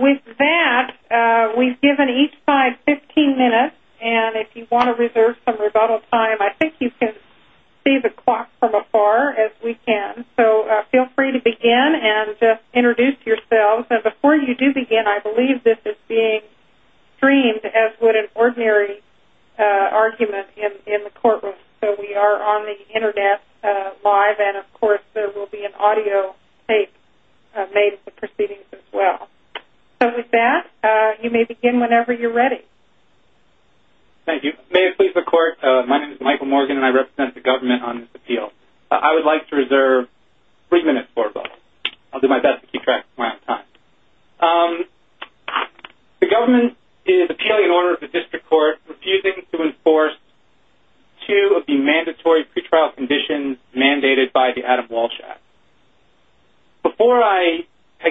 With that, we've given each side 15 minutes and if you want to reserve some rebuttal time, I think you can see the clock from afar as we can. So feel free to begin and just introduce yourselves. And before you do begin, I believe this is being streamed as would an ordinary argument in the courtroom. So we are on the internet live and of course there will be an audio tape made of the proceedings as well. So with that, you may begin whenever you're ready. Thank you. May it please the court, my name is Michael Morgan and I represent the government on this appeal. I would like to reserve three minutes for rebuttal. I'll do my best to keep track of my own time. The government is appealing an order of the district court refusing to enforce two of the mandatory pre-trial conditions mandated by the Adam Walsh Act. Before I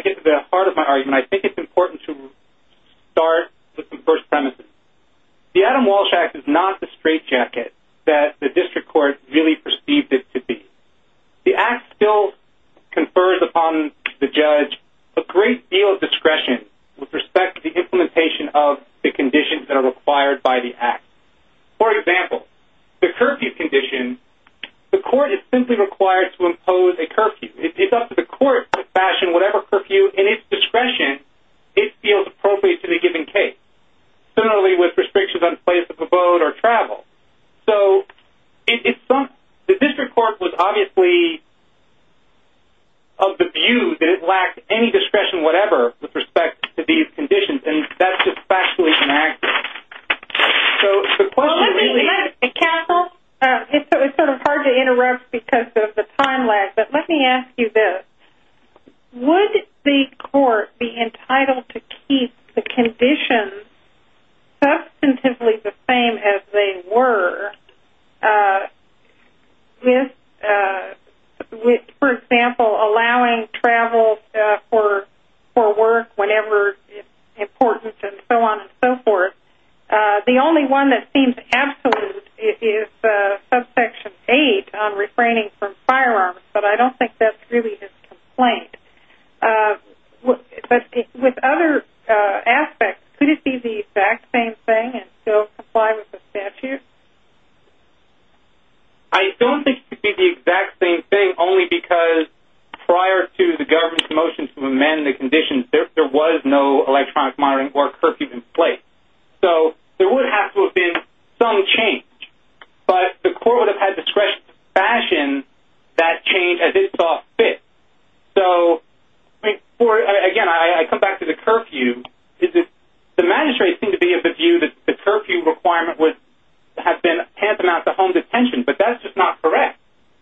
get to the heart of my argument, I think it's important to start with the first premises. The Adam Walsh Act is not the straitjacket that the district court really perceived it to be. The Act still confers upon the judge a great deal of discretion with respect to the implementation of the conditions that are required by the Act. For example, the curfew condition, the court is simply required to impose a curfew. It's up to the court to fashion whatever curfew in its discretion it feels appropriate to the given case. Similarly with restrictions on place of abode or travel. So the district court was obviously of the view that it lacked any discretion whatever with respect to these conditions and that's just factually inaccurate. It's sort of hard to interrupt because of the time lag, but let me ask you this. Would the court be entitled to keep the conditions substantively the same as they were, for example, allowing travel for work whenever it's important and so on and so forth? The only one that seems absolute is subsection 8 on refraining from firearms, but I don't think that's really his complaint. With other aspects, could it be the exact same thing and still comply with the statute? I don't think it could be the exact same thing only because prior to the government's motion to amend the conditions, there was no electronic monitoring or curfew in place. So there would have to have been some change, but the court would have had discretion to fashion that change as it saw fit. Again, I come back to the curfew. The magistrates seem to be of the view that the curfew requirement has been tantamount to home detention, but that's just not correct.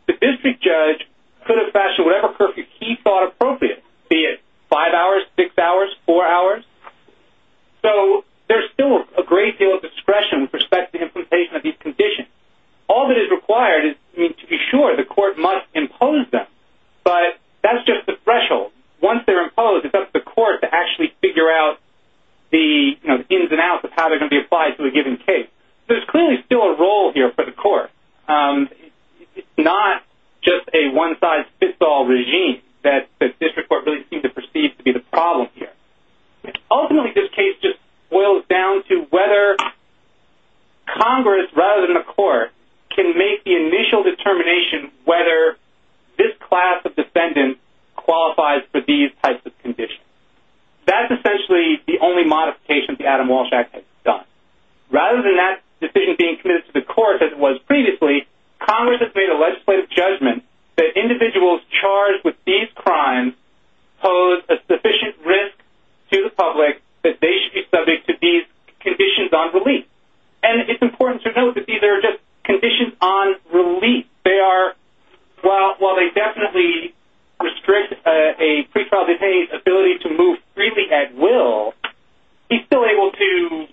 The district judge could have fashioned whatever curfew he thought appropriate, be it 5 hours, 6 hours, 4 hours. So there's still a great deal of discretion with respect to the implementation of these conditions. All that is required is to be sure the court must impose them, but that's just the threshold. Once they're imposed, it's up to the court to actually figure out the ins and outs of how they're going to be applied to a given case. There's clearly still a role here for the court. It's not just a one-size-fits-all regime that the district court really seems to perceive to be the problem here. Ultimately, this case just boils down to whether Congress, rather than the court, can make the initial determination whether this class of defendant qualifies for these types of conditions. That's essentially the only modification the Adam Walsh Act has done. Rather than that decision being committed to the court as it was previously, Congress has made a legislative judgment that individuals charged with these crimes pose a sufficient risk to the public that they should be subject to these conditions on relief. And it's important to note that these are just conditions on relief. While they definitely restrict a pretrial detainee's ability to move freely at will, he's still able to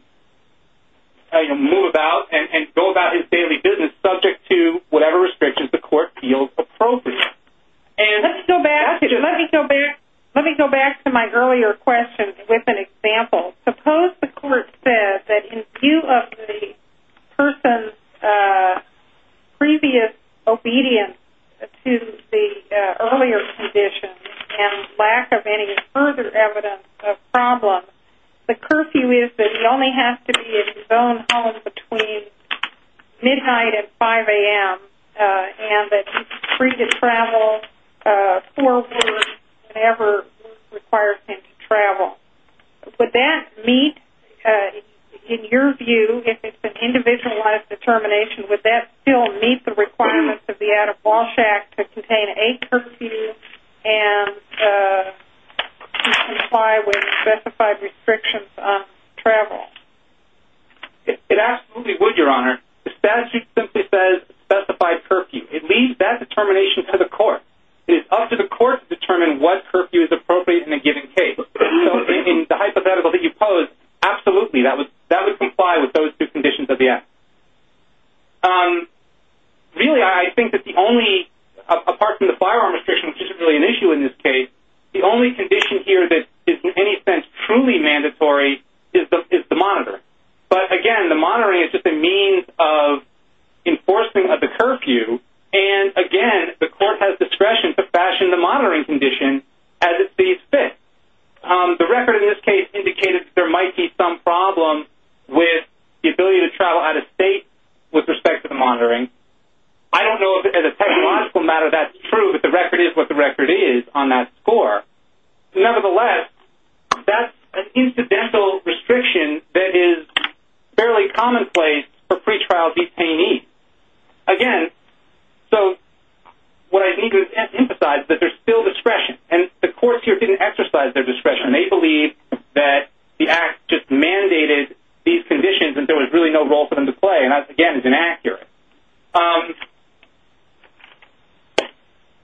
move about and go about his daily business subject to whatever restrictions the court feels appropriate. Let me go back to my earlier question with an example. Suppose the court said that in view of the person's previous obedience to the earlier conditions and lack of any further evidence of problems, the curfew is that he only has to be in his own home between midnight and 5 a.m. and that he's free to travel forward whenever required for him to travel. Would that meet, in your view, if it's an individualized determination, would that still meet the requirements of the Adam Walsh Act to contain a curfew and comply with specified restrictions on travel? It absolutely would, Your Honor. The statute simply says specified curfew. It leaves that determination to the court. It is up to the court to determine what curfew is appropriate in a given case. So, in the hypothetical that you posed, absolutely, that would comply with those two conditions of the Act. Really, I think that the only, apart from the firearm restriction, which isn't really an issue in this case, the only condition here that is in any sense truly mandatory is the monitoring. But, again, the monitoring is just a means of enforcing the curfew and, again, the court has discretion to fashion the monitoring condition as it sees fit. The record in this case indicated that there might be some problem with the ability to travel out of state with respect to the monitoring. I don't know if, as a technological matter, that's true, but the record is what the record is on that score. Nevertheless, that's an incidental restriction that is fairly commonplace for pretrial detainees. Again, so what I need to emphasize is that there's still discretion, and the courts here didn't exercise their discretion. They believe that the Act just mandated these conditions and there was really no role for them to play, and that, again, is inaccurate.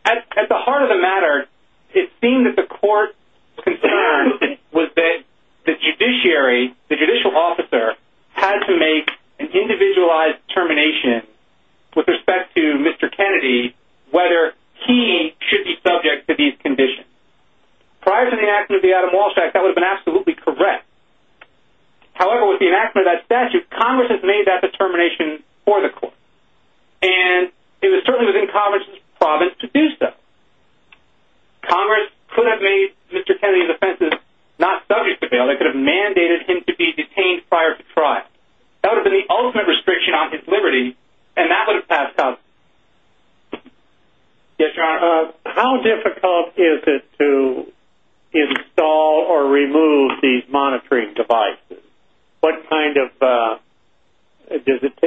At the heart of the matter, it seemed that the court's concern was that the judiciary, the judicial officer, had to make an individualized termination with respect to Mr. Kennedy, whether he should be subject to these conditions. Prior to the enactment of the Adam Walsh Act, that would have been absolutely correct. However, with the enactment of that statute, Congress has made that determination for the court, and it was certainly within Congress' province to do so. Congress could have made Mr. Kennedy's offenses not subject to bail. They could have mandated him to be detained prior to trial. That would have been the ultimate restriction on his liberty, and that would have passed out. Yes, Your Honor. How difficult is it to install or remove these monitoring devices?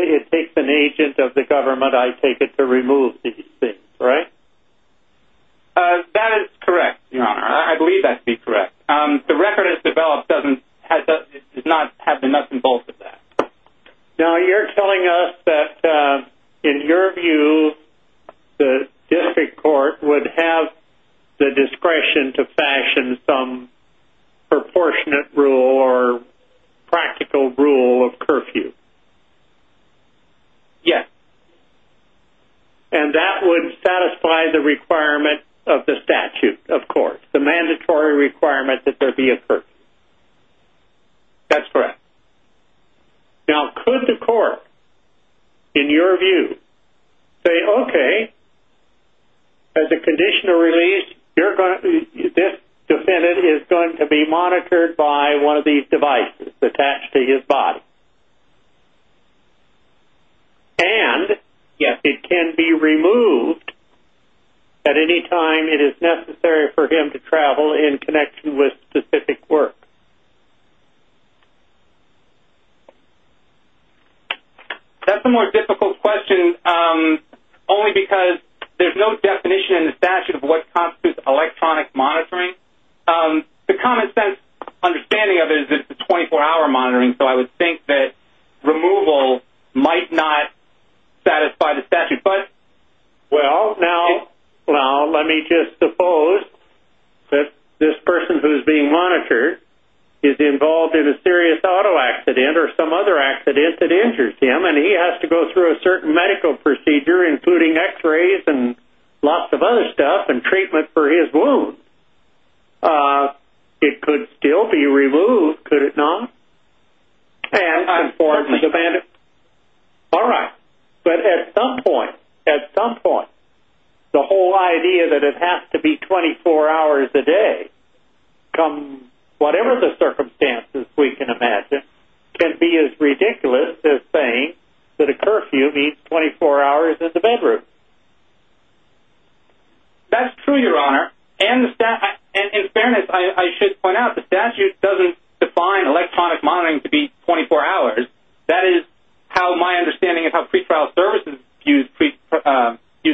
It takes an agent of the government, I take it, to remove these things, right? That is correct, Your Honor. I believe that to be correct. The record as developed does not have enough involvement in that. Now, you're telling us that, in your view, the district court would have the discretion to fashion some proportionate rule or practical rule of curfew. Yes. And that would satisfy the requirement of the statute, of course, the mandatory requirement that there be a curfew. That's correct. Now, could the court, in your view, say, okay, as a conditional release, this defendant is going to be monitored by one of these devices attached to his body? And, yes, it can be removed at any time it is necessary for him to travel in connection with specific work. That's a more difficult question, only because there's no definition in the statute of what constitutes electronic monitoring. The common sense understanding of it is that it's a 24-hour monitoring, so I would think that removal might not satisfy the statute. Well, now, let me just suppose that this person who is being monitored is involved in a serious auto accident or some other accident that injures him, and he has to go through a certain medical procedure, including x-rays and lots of other stuff and treatment for his wound. It could still be removed, could it not? Unfortunately. All right, but at some point, at some point, the whole idea that it has to be 24 hours a day, whatever the circumstances we can imagine, can be as ridiculous as saying that a curfew means 24 hours in the bedroom. That's true, Your Honor, and in fairness, I should point out that the statute doesn't define electronic monitoring to be 24 hours. That is how my understanding of how pretrial services use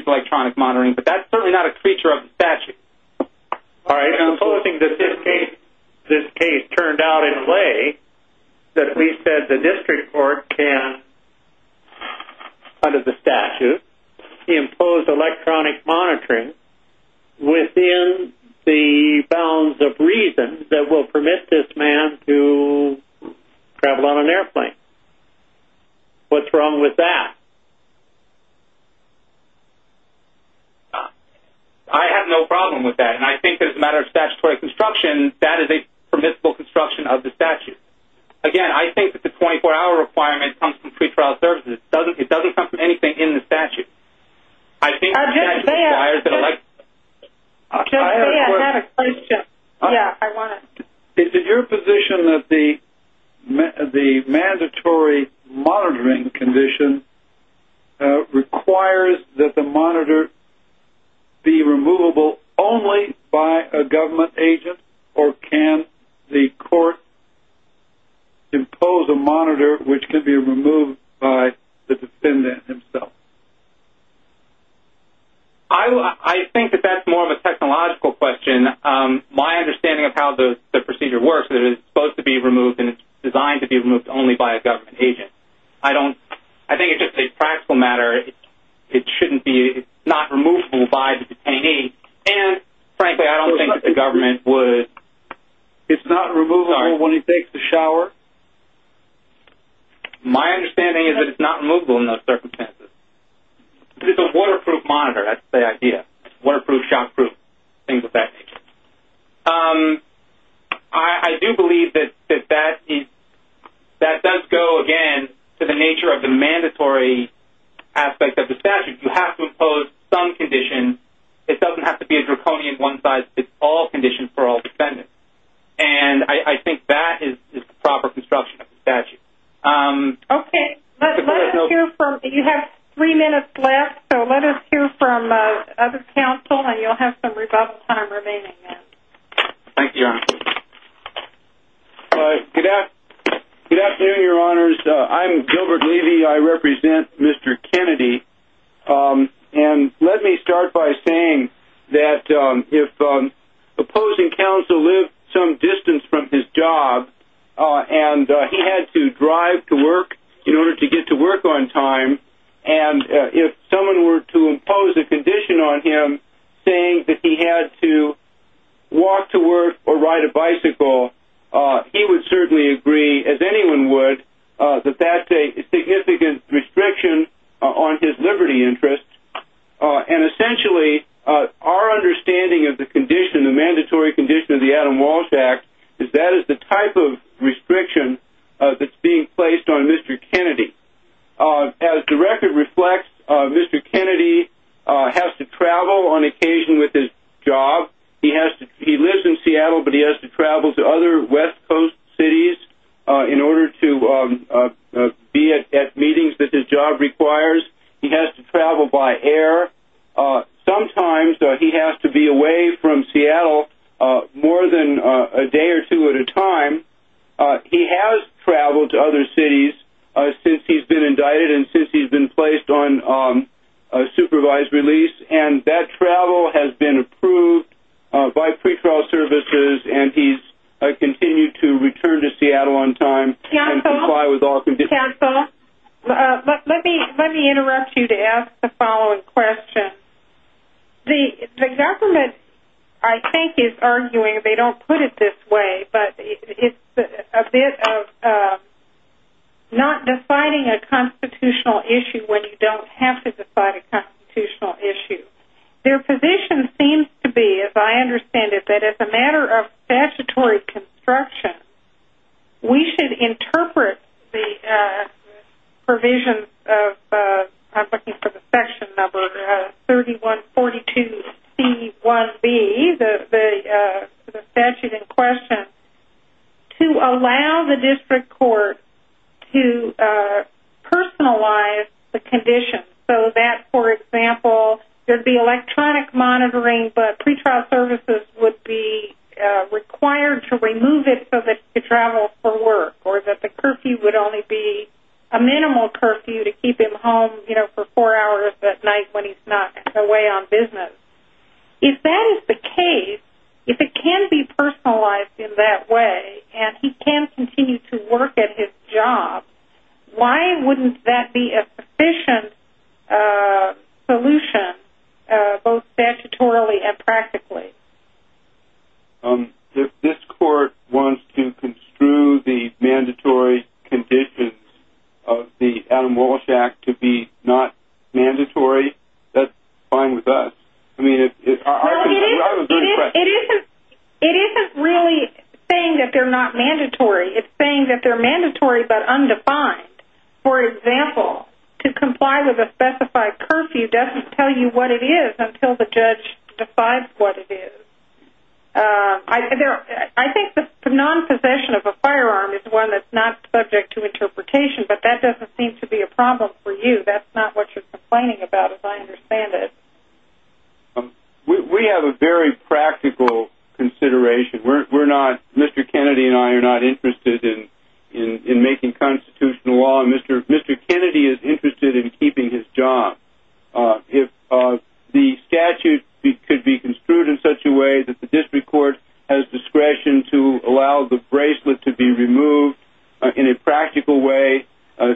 electronic monitoring, but that's certainly not a creature of the statute. All right, supposing that this case turned out in a way that we said the district court can, under the statute, impose electronic monitoring within the bounds of reason that will permit this man to travel on an airplane. What's wrong with that? I have no problem with that, and I think that as a matter of statutory construction, that is a permissible construction of the statute. Again, I think that the 24-hour requirement comes from pretrial services. It doesn't come from anything in the statute. I think the statute requires an electronic monitoring. I have a question. Yeah, I want to. Is it your position that the mandatory monitoring condition requires that the monitor be removable only by a government agent, or can the court impose a monitor which could be removed by the defendant himself? I think that that's more of a technological question. My understanding of how the procedure works is that it's supposed to be removed, and it's designed to be removed only by a government agent. I think it's just a practical matter. It shouldn't be. It's not removable by the detainee, and frankly, I don't think that the government would. It's not removable when he takes a shower? My understanding is that it's not removable in those circumstances. It's a waterproof monitor. That's the idea. Waterproof, shockproof, things of that nature. I do believe that that does go, again, to the nature of the mandatory aspect of the statute. You have to impose some condition. It doesn't have to be a draconian one-size-fits-all condition for all defendants, and I think that is the proper construction of the statute. Okay. You have three minutes left, so let us hear from other counsel, and you'll have some rebuttal time remaining then. Thank you, Your Honor. Good afternoon, Your Honors. I'm Gilbert Levy. I represent Mr. Kennedy, and let me start by saying that if opposing counsel lived some distance from his job and he had to drive to work in order to get to work on time, and if someone were to impose a condition on him saying that he had to walk to work or ride a bicycle, he would certainly agree, as anyone would, that that's a significant restriction on his liberty interest. And essentially, our understanding of the condition, the mandatory condition of the Adam Walsh Act, is that is the type of restriction that's being placed on Mr. Kennedy. As the record reflects, Mr. Kennedy has to travel on occasion with his job. He lives in Seattle, but he has to travel to other West Coast cities in order to be at meetings that his job requires. He has to travel by air. Sometimes he has to be away from Seattle more than a day or two at a time. He has traveled to other cities since he's been indicted and since he's been placed on supervised release, and that travel has been approved by pretrial services, and he's continued to return to Seattle on time and comply with all conditions. Thank you, counsel. Let me interrupt you to ask the following question. The government, I think, is arguing, they don't put it this way, but it's a bit of not deciding a constitutional issue when you don't have to decide a constitutional issue. Their position seems to be, as I understand it, that as a matter of statutory construction, we should interpret the provisions of, I'm looking for the section number, 3142C1B, the statute in question, to allow the district court to personalize the condition so that, for example, there'd be electronic monitoring but pretrial services would be required to remove it so that he could travel for work or that the curfew would only be a minimal curfew to keep him home, you know, for four hours at night when he's not away on business. If that is the case, if it can be personalized in that way and he can continue to work at his job, why wouldn't that be a sufficient solution both statutorily and practically? If this court wants to construe the mandatory conditions of the Adam Walsh Act to be not mandatory, that's fine with us. I mean, I was very impressed. It isn't really saying that they're not mandatory. It's saying that they're mandatory but undefined. For example, to comply with a specified curfew doesn't tell you what it is until the judge decides what it is. I think the non-possession of a firearm is one that's not subject to interpretation, but that doesn't seem to be a problem for you. That's not what you're complaining about, as I understand it. We have a very practical consideration. Mr. Kennedy and I are not interested in making constitutional law. Mr. Kennedy is interested in keeping his job. If the statute could be construed in such a way that the district court has discretion to allow the bracelet to be removed in a practical way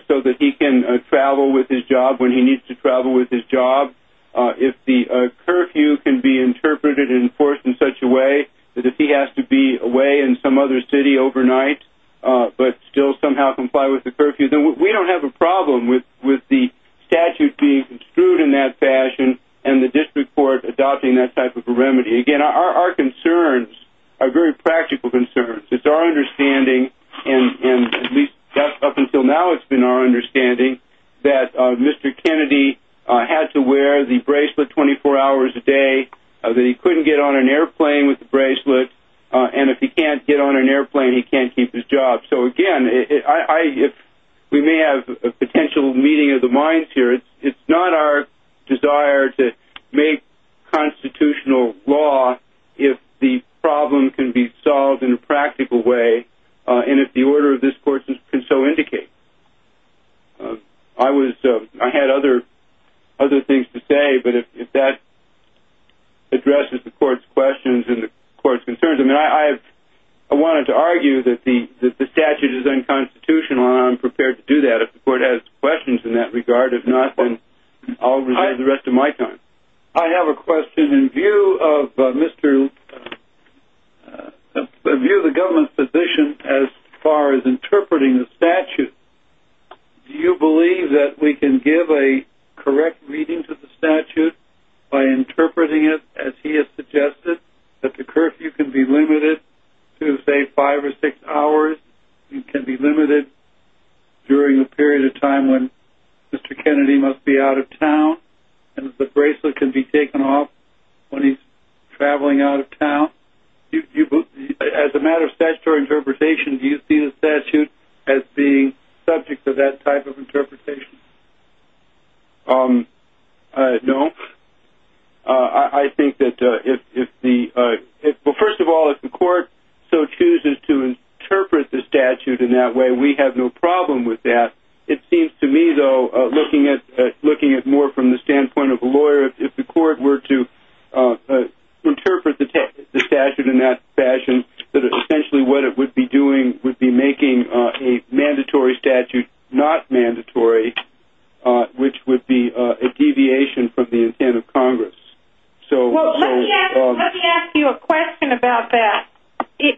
so that he can travel with his job when he needs to travel with his job, if the curfew can be interpreted and enforced in such a way that if he has to be away in some other city overnight but still somehow comply with the curfew, then we don't have a problem with the statute being construed in that fashion and the district court adopting that type of a remedy. Again, our concerns are very practical concerns. It's our understanding, and at least up until now it's been our understanding, that Mr. Kennedy had to wear the bracelet 24 hours a day, that he couldn't get on an airplane with the bracelet, and if he can't get on an airplane, he can't keep his job. So, again, we may have a potential meeting of the minds here. It's not our desire to make constitutional law if the problem can be solved in a practical way and if the order of this court can so indicate. I had other things to say, but if that addresses the court's questions and the court's concerns, I wanted to argue that the statute is unconstitutional and I'm prepared to do that. If the court has questions in that regard, if not, then I'll reserve the rest of my time. I have a question in view of the government's position as far as interpreting the statute. Do you believe that we can give a correct reading to the statute by interpreting it as he has suggested, that the curfew can be limited to, say, five or six hours? It can be limited during a period of time when Mr. Kennedy must be out of town and the bracelet can be taken off when he's traveling out of town? As a matter of statutory interpretation, do you see the statute as being subject to that type of interpretation? No. First of all, if the court so chooses to interpret the statute in that way, we have no problem with that. It seems to me, though, looking at it more from the standpoint of a lawyer, if the court were to interpret the statute in that fashion, essentially what it would be doing would be making a mandatory statute not mandatory, which would be a deviation from the intent of Congress. Well, let me ask you a question about that.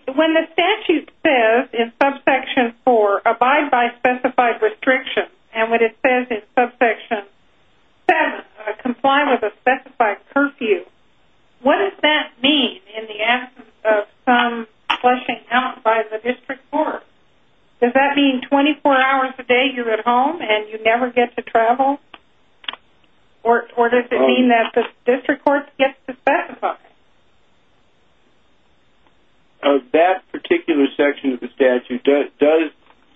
When the statute says in subsection 4, abide by specified restrictions, and when it says in subsection 7, comply with a specified curfew, what does that mean in the absence of some fleshing out by the district court? Does that mean 24 hours a day you're at home and you never get to travel? Or does it mean that the district court gets to specify? That particular section of the statute does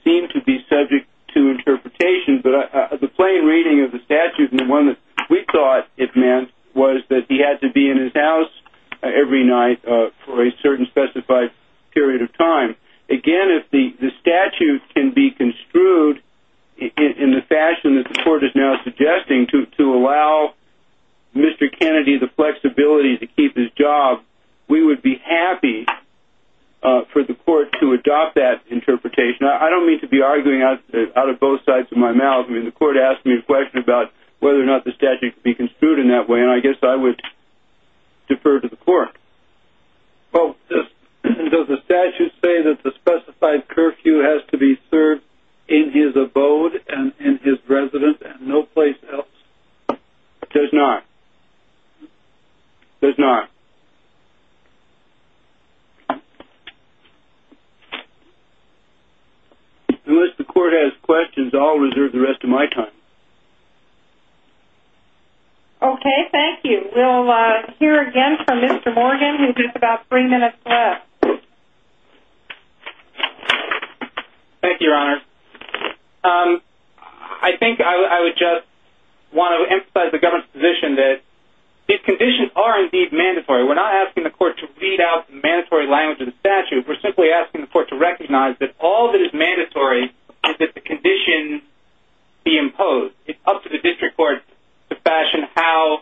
seem to be subject to interpretation, but the plain reading of the statute, and the one that we thought it meant, was that he had to be in his house every night for a certain specified period of time. Again, if the statute can be construed in the fashion that the court is now suggesting to allow Mr. Kennedy the flexibility to keep his job, we would be happy for the court to adopt that interpretation. I don't mean to be arguing out of both sides of my mouth. The court asked me a question about whether or not the statute could be construed in that way, and I guess I would defer to the court. Does the statute say that the specified curfew has to be served in his abode and in his residence and no place else? It does not. It does not. Unless the court has questions, I'll reserve the rest of my time. Okay, thank you. We'll hear again from Mr. Morgan in just about three minutes left. Thank you, Your Honor. I think I would just want to emphasize the government's position that these conditions are indeed mandatory. We're not asking the court to read out the mandatory language of the statute. We're simply asking the court to recognize that all that is mandatory is that the conditions be imposed. It's up to the district court to fashion how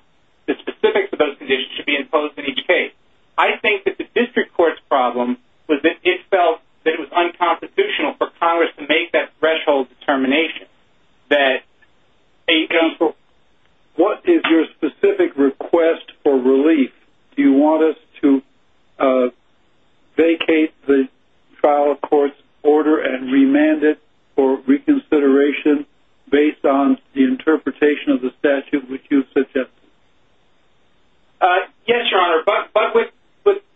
the specifics of those conditions should be imposed in each case. I think that the district court's problem was that it felt that it was unconstitutional for Congress to make that threshold determination. What is your specific request for relief? Do you want us to vacate the trial court's order and remand it for reconsideration based on the interpretation of the statute which you've suggested? Yes, Your Honor. But with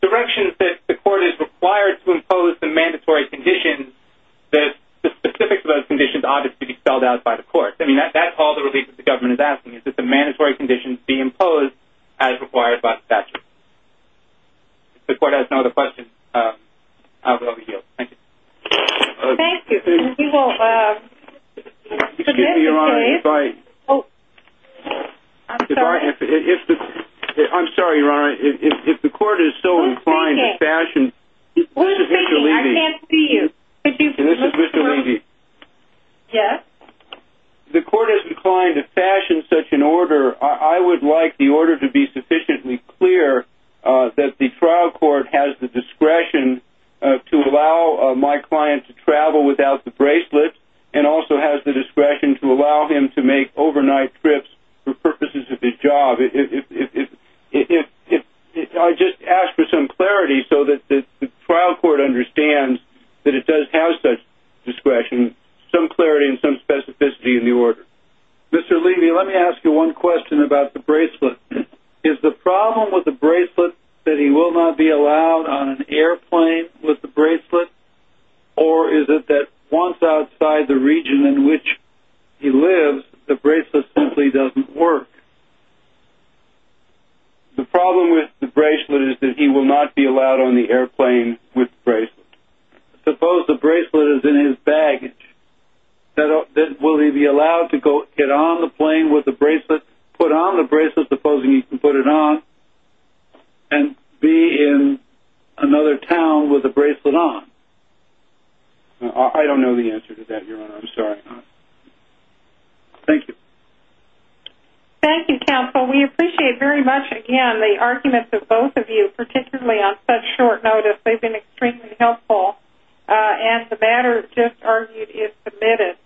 directions that the court is required to impose the mandatory conditions, the specifics of those conditions ought to be spelled out by the court. That's all the relief that the government is asking, is that the mandatory conditions be imposed as required by the statute. If the court has no other questions, I will overheal. Thank you. Thank you. Excuse me, Your Honor. I'm sorry, Your Honor. If the court is so inclined to fashion... Who's speaking? I can't see you. This is Mr. Levy. Yes? If the court is inclined to fashion such an order, I would like the order to be sufficiently clear that the trial court has the discretion to allow my client to travel without the bracelet and also has the discretion to allow him to make overnight trips for purposes of his job. If I just ask for some clarity so that the trial court understands that it does have such discretion, some clarity and some specificity in the order. Mr. Levy, let me ask you one question about the bracelet. Is the problem with the bracelet that he will not be allowed on an airplane with the bracelet, or is it that once outside the region in which he lives, the bracelet simply doesn't work? The problem with the bracelet is that he will not be allowed on the airplane with the bracelet. Suppose the bracelet is in his baggage. Will he be allowed to get on the plane with the bracelet, put on the bracelet, supposing he can put it on, and be in another town with the bracelet on? I don't know the answer to that, Your Honor. I'm sorry. Thank you. Thank you, counsel. We appreciate very much, again, the arguments of both of you, particularly on such short notice. They've been extremely helpful, and the matter just argued is submitted.